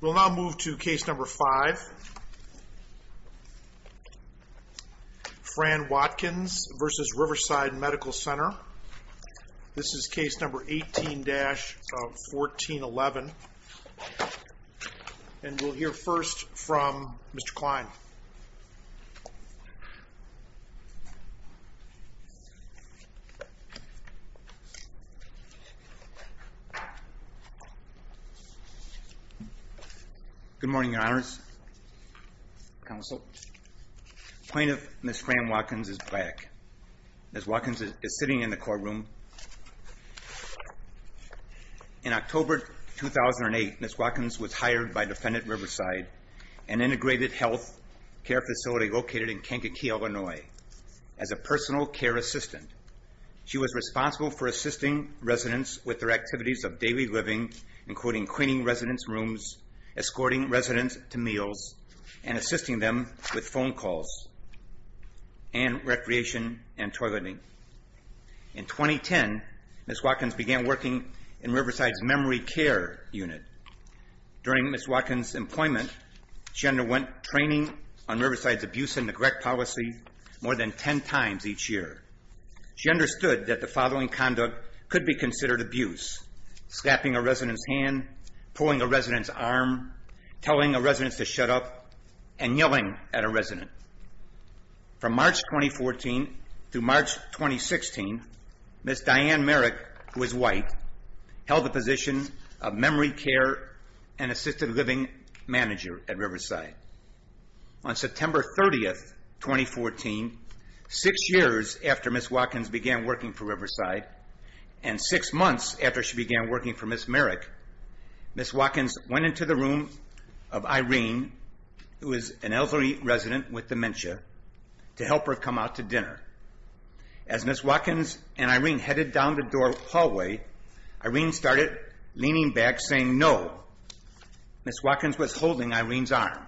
We'll now move to case number five. Fran Watkins v. Riverside Medical Center. This is case number 18-1411. And we'll hear first from Mr. Klein. Good morning, Your Honors, Counsel. Plaintiff Ms. Fran Watkins is back. Ms. Watkins is sitting in the courtroom. In October 2008, Ms. Watkins was hired by Defendant Riverside, an integrated health care facility located in Kankakee, Illinois, as a personal care assistant. She was responsible for assisting residents with their activities of daily living, including cleaning residents' rooms, escorting residents to meals, and assisting them with phone calls, and recreation and toileting. In 2010, Ms. Watkins began working in Riverside's memory care unit. During Ms. Watkins' employment, she underwent training on Riverside's abuse and neglect policy more than ten times each year. She understood that the following conduct could be considered abuse, slapping a resident's hand, pulling a resident's arm, telling a resident to shut up, and yelling at a resident. From March 2014 through March 2016, Ms. Diane Merrick, who is white, held the position of memory care and assisted living manager at Riverside. On September 30, 2014, six years after Ms. Watkins began working for Riverside and six months after she began working for Ms. Merrick, Ms. Watkins went into the room of Irene, who is an elderly resident with dementia, to help her come out to dinner. As Ms. Watkins and Irene headed down the door hallway, Irene started leaning back, saying no. Ms. Watkins was holding Irene's arm.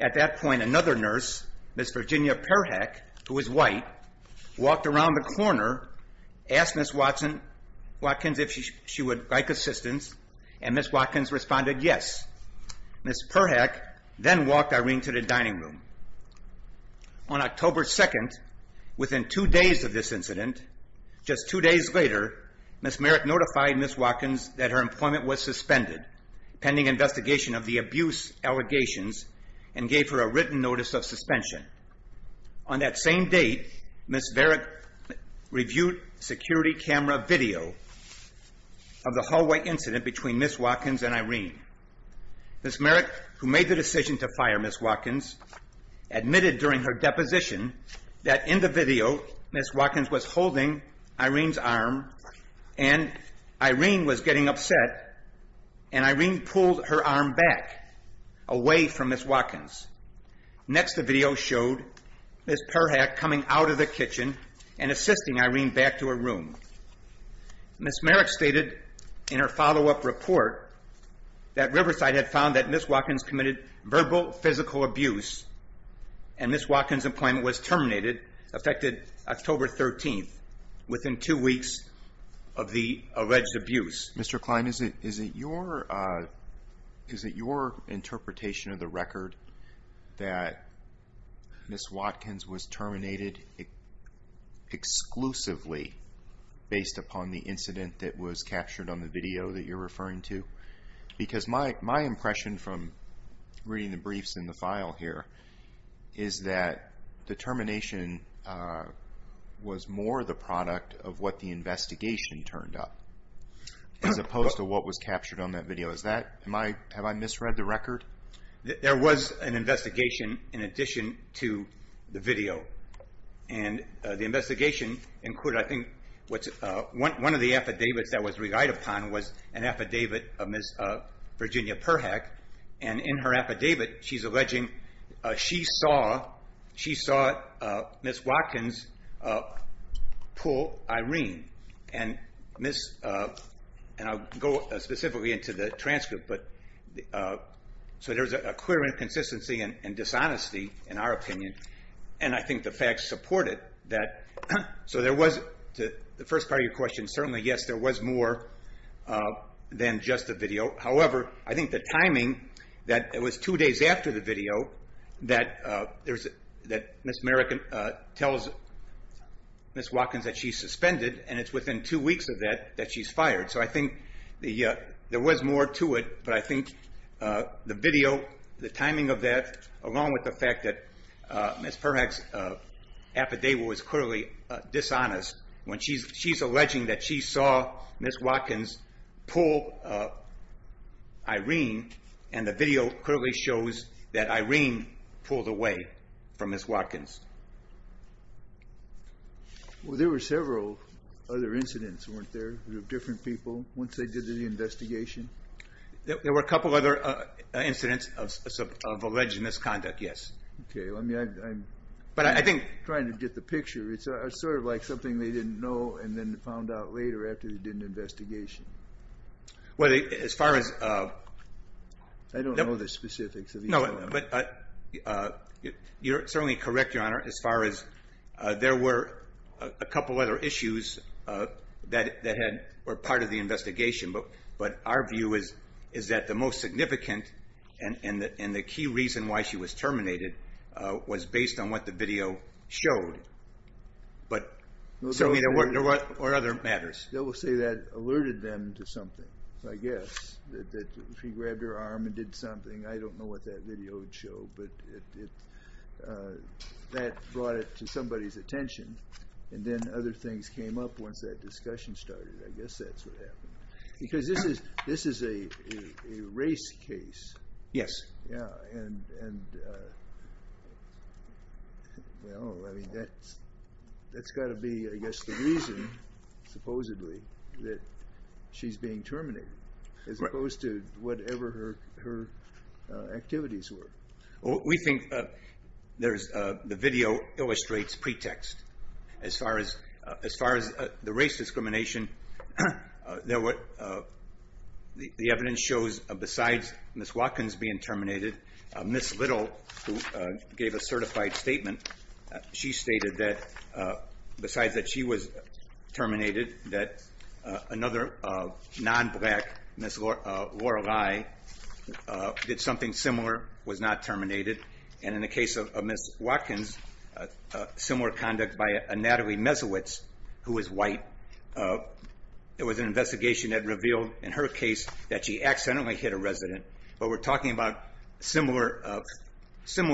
At that point, another nurse, Ms. Virginia Perhak, who is white, walked around the corner, asked Ms. Watkins if she would like assistance, and Ms. Watkins responded yes. Ms. Perhak then walked Irene to the dining room. On October 2, within two days of this incident, just two days later, Ms. Merrick notified Ms. Watkins that her employment was suspended, pending investigation of the abuse allegations, and gave her a written notice of suspension. On that same date, Ms. Perhak reviewed security camera video of the hallway incident between Ms. Watkins and Irene. Ms. Merrick, who made the decision to fire Ms. Watkins, admitted during her deposition that in the video, Ms. Watkins was holding Irene's arm, and Irene was getting upset, and Irene pulled her arm back, away from Ms. Watkins. Next, the video showed Ms. Perhak coming out of the kitchen and assisting Irene back to her room. Ms. Merrick stated in her follow-up report that Riverside had found that Ms. Watkins committed verbal, physical abuse, and Ms. Watkins' employment was terminated, affected October 13, within two weeks of the alleged abuse. Mr. Klein, is it your interpretation of the record that Ms. Watkins was terminated exclusively based upon the incident that was captured on the video that you're referring to? Because my impression from reading the briefs in the file here is that the termination was more the product of what the investigation turned up, as opposed to what was captured on that video. Have I misread the record? There was an investigation in addition to the video, and the investigation included, I think, one of the affidavits that was relied upon was an affidavit of Ms. Virginia Perhak, and in her affidavit, she's alleging she saw Ms. Watkins pull Irene. And I'll go specifically into the transcript, so there's a clear inconsistency and dishonesty, in our opinion, and I think the facts support it. So the first part of your question, certainly, yes, there was more than just the video. However, I think the timing, that it was two days after the video, that Ms. Merrick tells Ms. Watkins that she's suspended, and it's within two weeks of that that she's fired. So I think there was more to it, but I think the video, the timing of that, along with the fact that Ms. Perhak's affidavit was clearly dishonest, when she's alleging that she saw Ms. Watkins pull Irene, and the video clearly shows that Irene pulled away from Ms. Watkins. Well, there were several other incidents, weren't there, with different people, once they did the investigation? There were a couple other incidents of alleged misconduct, yes. Okay. But I think... I'm trying to get the picture. It's sort of like something they didn't know and then found out later after they did an investigation. Well, as far as... I don't know the specifics of either of them. No, but you're certainly correct, Your Honor, as far as there were a couple other issues that were part of the investigation, but our view is that the most significant and the key reason why she was terminated was based on what the video showed, but certainly there were other matters. They will say that alerted them to something, I guess, that she grabbed her arm and did something. I don't know what that video would show, but that brought it to somebody's attention, and then other things came up once that discussion started. I guess that's what happened. Because this is a race case. Yes. Yeah, and... Well, I mean, that's got to be, I guess, the reason, supposedly, that she's being terminated, as opposed to whatever her activities were. We think there's... The video illustrates pretext. As far as the race discrimination, the evidence shows besides Ms. Watkins being terminated, Ms. Little, who gave a certified statement, she stated that besides that she was terminated, that another non-black, Ms. Lorelei, did something similar, was not terminated, and in the case of Ms. Watkins, similar conduct by a Natalie Mesowitz, who was white. There was an investigation that revealed, in her case, that she accidentally hit a resident, but we're talking about similar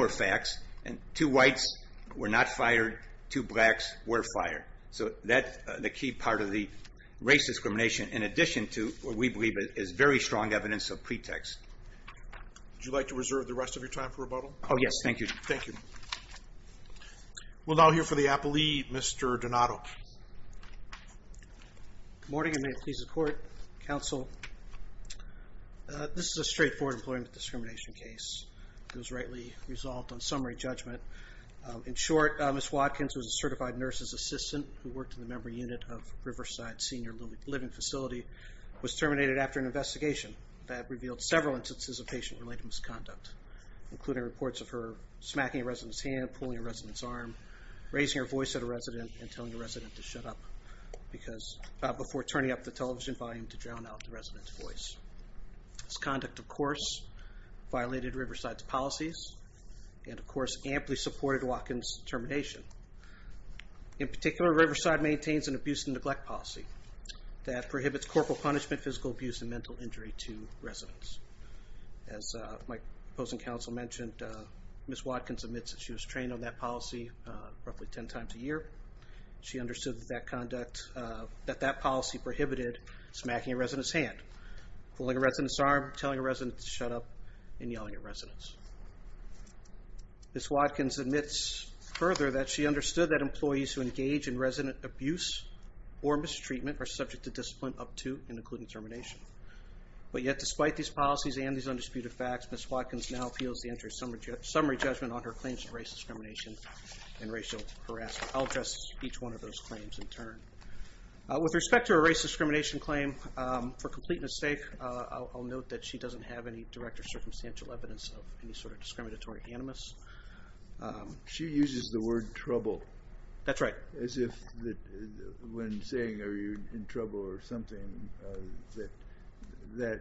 facts, and two whites were not fired, two blacks were fired. So that's the key part of the race discrimination, in addition to what we believe is very strong evidence of pretext. Would you like to reserve the rest of your time for rebuttal? Oh, yes, thank you. Thank you. We'll now hear from the applee, Mr. Donato. Good morning, and may it please the Court, Counsel. This is a straightforward employment discrimination case. It was rightly resolved on summary judgment. In short, Ms. Watkins was a certified nurse's assistant who worked in the memory unit of Riverside Senior Living Facility, was terminated after an investigation that revealed several instances of patient-related misconduct, including reports of her smacking a resident's hand, pulling a resident's arm, raising her voice at a resident, and telling the resident to shut up before turning up the television volume to drown out the resident's voice. This conduct, of course, violated Riverside's policies and, of course, amply supported Watkins' termination. In particular, Riverside maintains an abuse and neglect policy that prohibits corporal punishment, physical abuse, and mental injury to residents. As my opposing counsel mentioned, Ms. Watkins admits that she was trained on that policy roughly 10 times a year. She understood that that policy prohibited smacking a resident's hand, pulling a resident's arm, telling a resident to shut up, and yelling at residents. Ms. Watkins admits further that she understood that employees who engage in resident abuse or mistreatment are subject to discipline up to and including termination. But yet, despite these policies and these undisputed facts, Ms. Watkins now appeals the entry of summary judgment on her claims of race discrimination and racial harassment. I'll address each one of those claims in turn. With respect to her race discrimination claim, for complete mistake, I'll note that she doesn't have any direct or circumstantial evidence of any sort of discriminatory animus. She uses the word trouble. That's right. As if when saying, are you in trouble or something, that that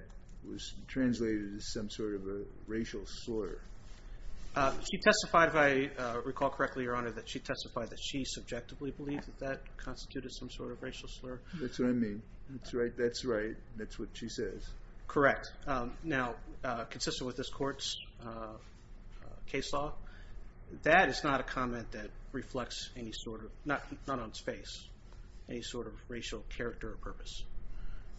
was translated as some sort of a racial slur. She testified, if I recall correctly, Your Honor, that she testified that she subjectively believed that that constituted some sort of racial slur. That's what I mean. That's right. That's what she says. Correct. Now, consistent with this court's case law, that is not a comment that reflects any sort of, not on its face, any sort of racial character or purpose,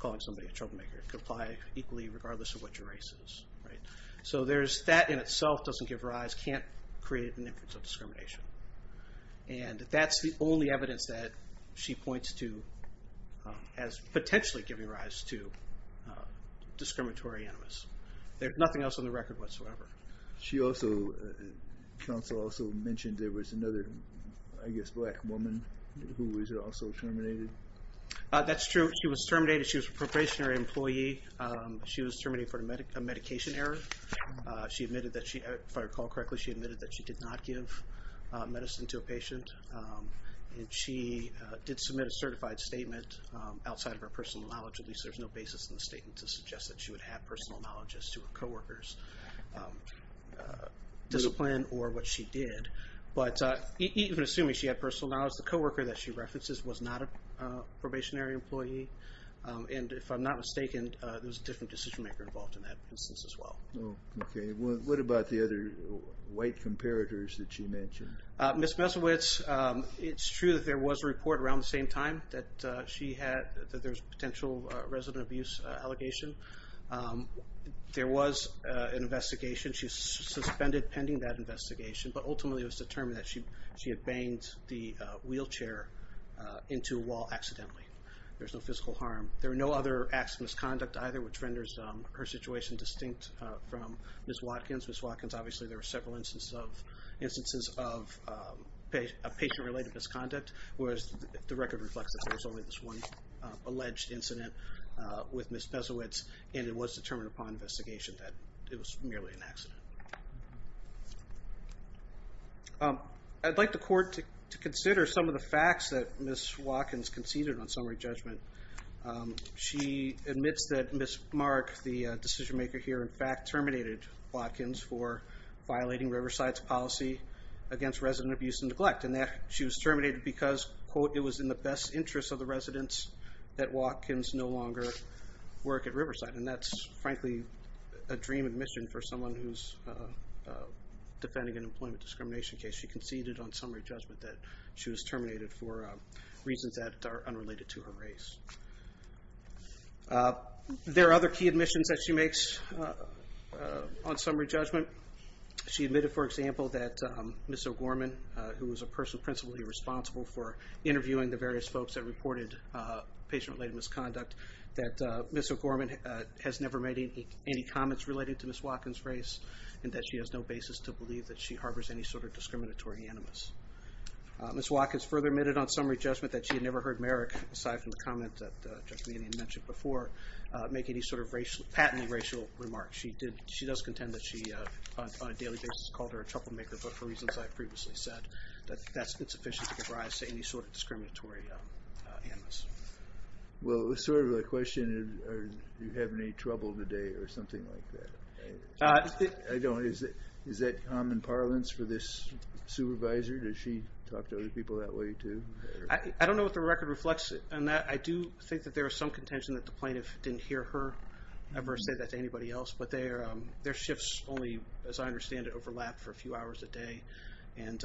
calling somebody a troublemaker. It could apply equally regardless of what your race is. So that in itself doesn't give rise, can't create an inference of discrimination. And that's the only evidence that she points to as potentially giving rise to discriminatory animus. There's nothing else on the record whatsoever. She also, counsel also mentioned there was another, I guess, black woman who was also terminated. That's true. She was terminated. She was a probationary employee. She was terminated for a medication error. She admitted that she, if I recall correctly, she admitted that she did not give medicine to a patient. And she did submit a certified statement outside of her personal knowledge. At least there's no basis in the statement to suggest that she would have personal knowledge as to her co-worker's discipline or what she did. But even assuming she had personal knowledge, the co-worker that she references was not a probationary employee. And if I'm not mistaken, there was a different decision maker involved in that instance as well. Okay. What about the other white comparators that she mentioned? Ms. Mesowitz, it's true that there was a report around the same time that there was potential resident abuse allegation. There was an investigation. She was suspended pending that investigation, but ultimately it was determined that she had banged the wheelchair into a wall accidentally. There was no physical harm. There were no other acts of misconduct either, which renders her situation distinct from Ms. Watkins. Ms. Watkins, obviously there were several instances of patient-related misconduct, whereas the record reflects that there was only this one alleged incident with Ms. Mesowitz, and it was determined upon investigation that it was merely an accident. I'd like the court to consider some of the facts that Ms. Watkins conceded on summary judgment. She admits that Ms. Mark, the decision maker here, in fact terminated Watkins for violating Riverside's policy against resident abuse and neglect, and that she was terminated because, quote, it was in the best interest of the residents that Watkins no longer work at Riverside, and that's frankly a dream admission for someone who's defending an employment discrimination case. She conceded on summary judgment that she was terminated for reasons that are unrelated to her race. There are other key admissions that she makes on summary judgment. She admitted, for example, that Ms. O'Gorman, who was a person principally responsible for interviewing the various folks that reported patient-related misconduct, that Ms. O'Gorman has never made any comments related to Ms. Watkins' race, and that she has no basis to believe that she harbors any sort of discriminatory animus. Ms. Watkins further admitted on summary judgment that she had never heard Merrick, aside from the comment that Judge Meaney had mentioned before, make any sort of patently racial remarks. She does contend that she, on a daily basis, called her a troublemaker, but for reasons I've previously said, that's insufficient to give rise to any sort of discriminatory animus. Well, it was sort of a question, do you have any trouble today or something like that? I don't. Is that common parlance for this supervisor? Does she talk to other people that way too? I don't know what the record reflects on that. I do think that there is some contention that the plaintiff didn't hear her ever say that to anybody else, but their shifts only, as I understand it, overlap for a few hours a day, and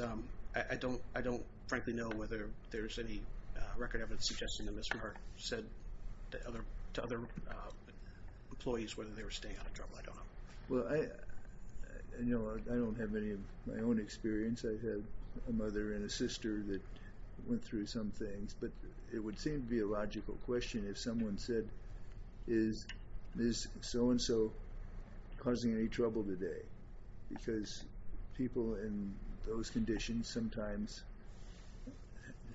I don't frankly know whether there's any record evidence whether they were staying out of trouble. I don't know. I don't have any of my own experience. I have a mother and a sister that went through some things, but it would seem to be a logical question if someone said, is so-and-so causing any trouble today? Because people in those conditions sometimes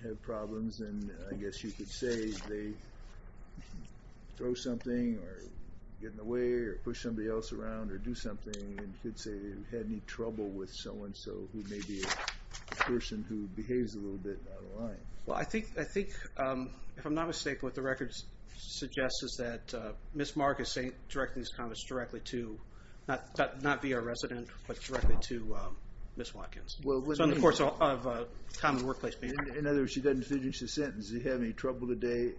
have problems, and I guess you could say they throw something or get in the way or push somebody else around or do something, and you could say they've had any trouble with so-and-so who may be a person who behaves a little bit out of line. Well, I think, if I'm not mistaken, what the record suggests is that Ms. Marcus ain't directing these comments directly to, not via a resident, but directly to Ms. Watkins. Well, what do you mean by that? In other words, she doesn't finish the sentence. Does he have any trouble today?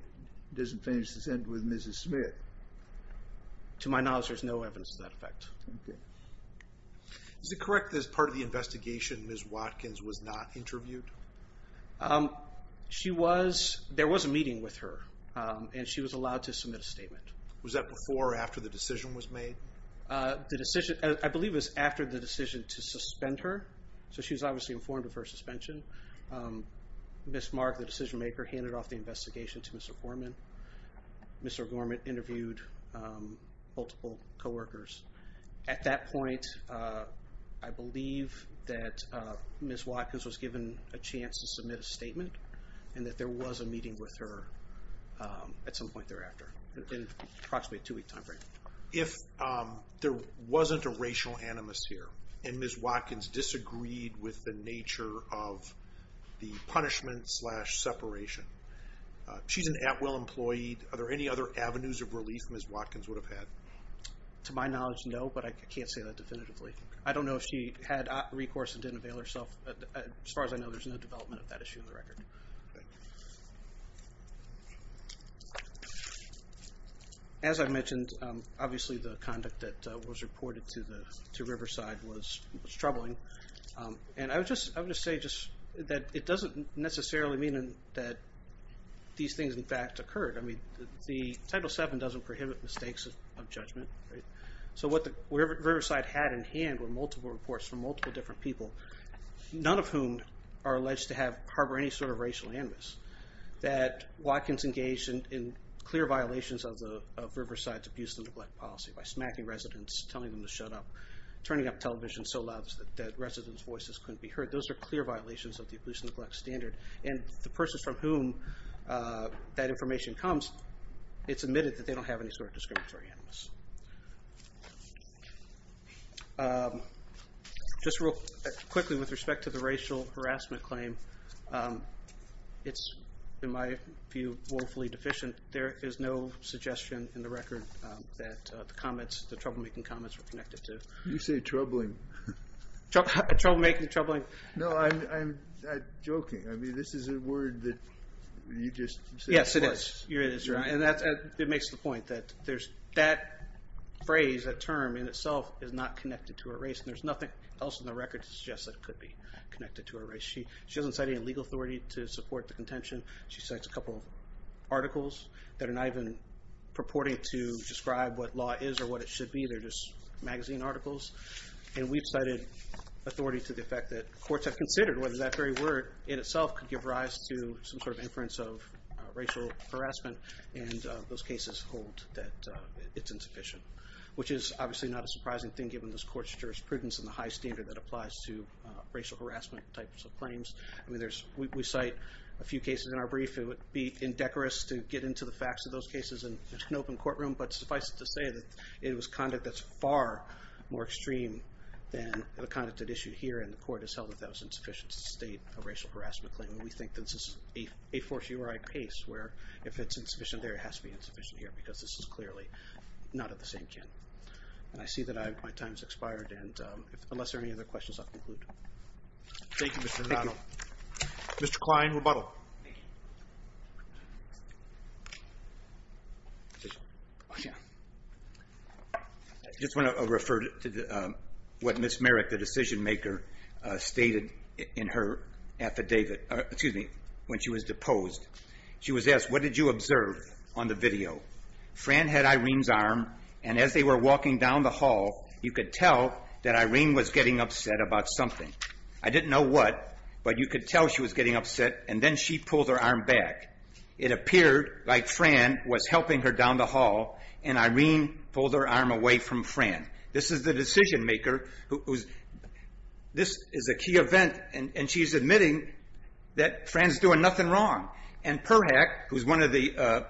Doesn't finish the sentence with Mrs. Smith. To my knowledge, there's no evidence of that effect. Okay. Is it correct that as part of the investigation, Ms. Watkins was not interviewed? She was. There was a meeting with her, and she was allowed to submit a statement. Was that before or after the decision was made? The decision, I believe, was after the decision to suspend her. So she was obviously informed of her suspension. Ms. Mark, the decision maker, handed off the investigation to Mr. Gorman. Mr. Gorman interviewed multiple coworkers. At that point, I believe that Ms. Watkins was given a chance to submit a statement and that there was a meeting with her at some point thereafter, in approximately a two-week time frame. If there wasn't a racial animus here and Ms. Watkins disagreed with the nature of the punishment slash separation, she's an Atwell employee. Are there any other avenues of relief Ms. Watkins would have had? To my knowledge, no, but I can't say that definitively. I don't know if she had recourse and didn't avail herself. As far as I know, there's no development of that issue on the record. Okay. As I mentioned, obviously, the conduct that was reported to Riverside was troubling. And I would just say that it doesn't necessarily mean that these things, in fact, occurred. Title VII doesn't prohibit mistakes of judgment. So what Riverside had in hand were multiple reports from multiple different people, none of whom are alleged to harbor any sort of racial animus, that Watkins engaged in clear violations of Riverside's abuse and neglect policy by smacking residents, telling them to shut up, turning up television so loud that residents' voices couldn't be heard. Those are clear violations of the abuse and neglect standard. And the persons from whom that information comes, it's admitted that they don't have any sort of discriminatory animus. Just real quickly, with respect to the racial harassment claim, it's, in my view, woefully deficient. There is no suggestion in the record that the troublemaking comments were connected to. You say troubling. Troublemaking, troubling. No, I'm joking. I mean, this is a word that you just said. Yes, it is. It makes the point that there's that phrase, that term in itself is not connected to a race, and there's nothing else in the record to suggest that it could be connected to a race. She doesn't cite any legal authority to support the contention. She cites a couple of articles that are not even purporting to describe what law is or what it should be. They're just magazine articles. And we've cited authority to the fact that courts have considered whether that very word in itself could give rise to some sort of inference of racial harassment, and those cases hold that it's insufficient, which is obviously not a surprising thing given this court's jurisprudence and the high standard that applies to racial harassment types of claims. We cite a few cases in our brief. It would be indecorous to get into the facts of those cases in an open courtroom, but suffice it to say that it was conduct that's far more extreme than the conduct at issue here and the court has held that that was insufficient to state a racial harassment claim. And we think that this is a fortiori case where if it's insufficient there, it has to be insufficient here because this is clearly not at the same gin. And I see that my time has expired, and unless there are any other questions, I'll conclude. Thank you, Mr. McDonald. Mr. Klein, rebuttal. I just want to refer to what Ms. Merrick, the decision-maker, stated in her affidavit when she was deposed. She was asked, What did you observe on the video? Fran had Irene's arm, and as they were walking down the hall, you could tell that Irene was getting upset about something. I didn't know what, but you could tell she was getting upset, and then she pulled her arm back. It appeared like Fran was helping her down the hall, and Irene pulled her arm away from Fran. This is the decision-maker. This is a key event, and she's admitting that Fran's doing nothing wrong. And Perhak, who's one of the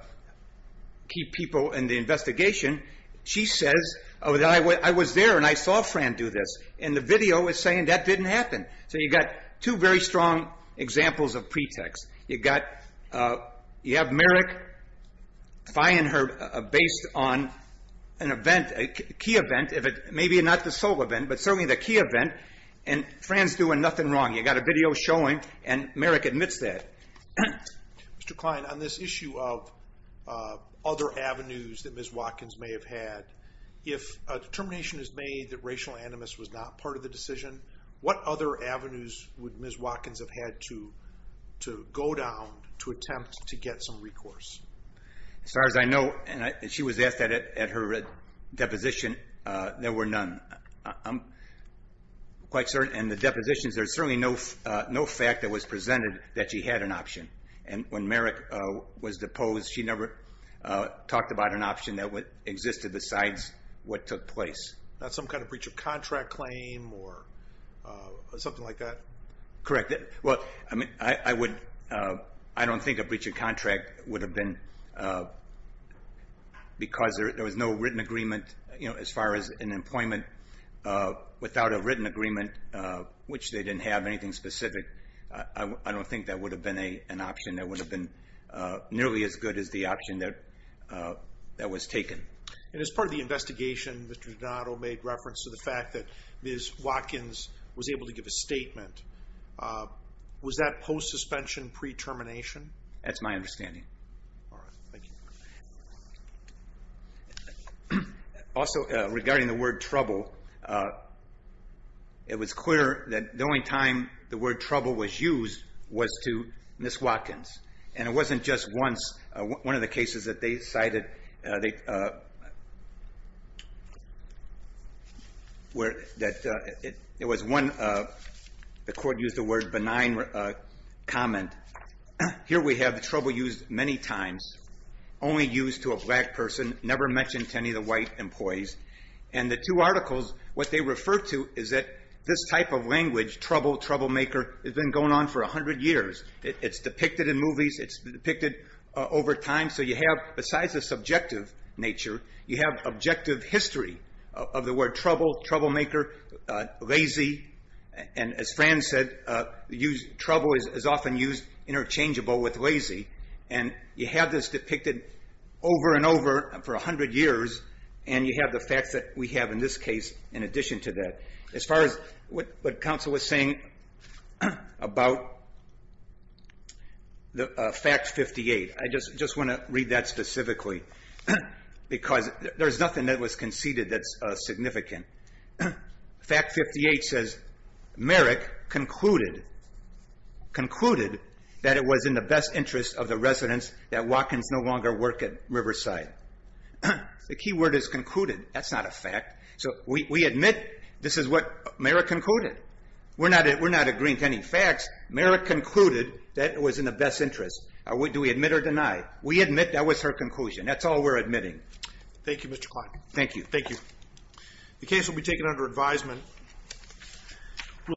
key people in the investigation, she says, I was there, and I saw Fran do this, and the video is saying that didn't happen. So you've got two very strong examples of pretext. You have Merrick, if I hadn't heard, based on an event, a key event, maybe not the sole event, but certainly the key event, and Fran's doing nothing wrong. You've got a video showing, and Merrick admits that. Mr. Klein, on this issue of other avenues that Ms. Watkins may have had, if a determination is made that racial animus was not part of the decision, what other avenues would Ms. Watkins have had to go down to attempt to get some recourse? As far as I know, and she was asked that at her deposition, there were none. I'm quite certain in the depositions, there's certainly no fact that was presented that she had an option. And when Merrick was deposed, she never talked about an option that existed besides what took place. Not some kind of breach of contract claim or something like that? Correct. Well, I don't think a breach of contract would have been because there was no written agreement as far as an employment without a written agreement, which they didn't have anything specific. I don't think that would have been an option that would have been nearly as good as the option that was taken. And as part of the investigation, Mr. Donato made reference to the fact that Ms. Watkins was able to give a statement Was that post-suspension, pre-termination? That's my understanding. All right. Thank you. Also, regarding the word trouble, it was clear that the only time the word trouble was used was to Ms. Watkins. And it wasn't just once. One of the cases that they cited, where it was one, the court used the word benign comment. Here we have the trouble used many times, only used to a black person, never mentioned to any of the white employees. And the two articles, what they refer to is that this type of language, trouble, troublemaker, has been going on for 100 years. It's depicted in movies. It's depicted over time. So you have, besides the subject matter, the subjective nature, you have objective history of the word trouble, troublemaker, lazy. And as Fran said, trouble is often used interchangeable with lazy. And you have this depicted over and over for 100 years, and you have the facts that we have in this case in addition to that. As far as what counsel was saying about the fact 58, I just want to read that specifically. Because there's nothing that was conceded that's significant. Fact 58 says, Merrick concluded, concluded that it was in the best interest of the residents that Watkins no longer work at Riverside. The key word is concluded. That's not a fact. So we admit this is what Merrick concluded. We're not agreeing to any facts. Merrick concluded that it was in the best interest. Do we admit or deny? We admit that was her conclusion. That's all we're admitting. Thank you, Mr. Clark. Thank you. Thank you. The case will be taken under advisement.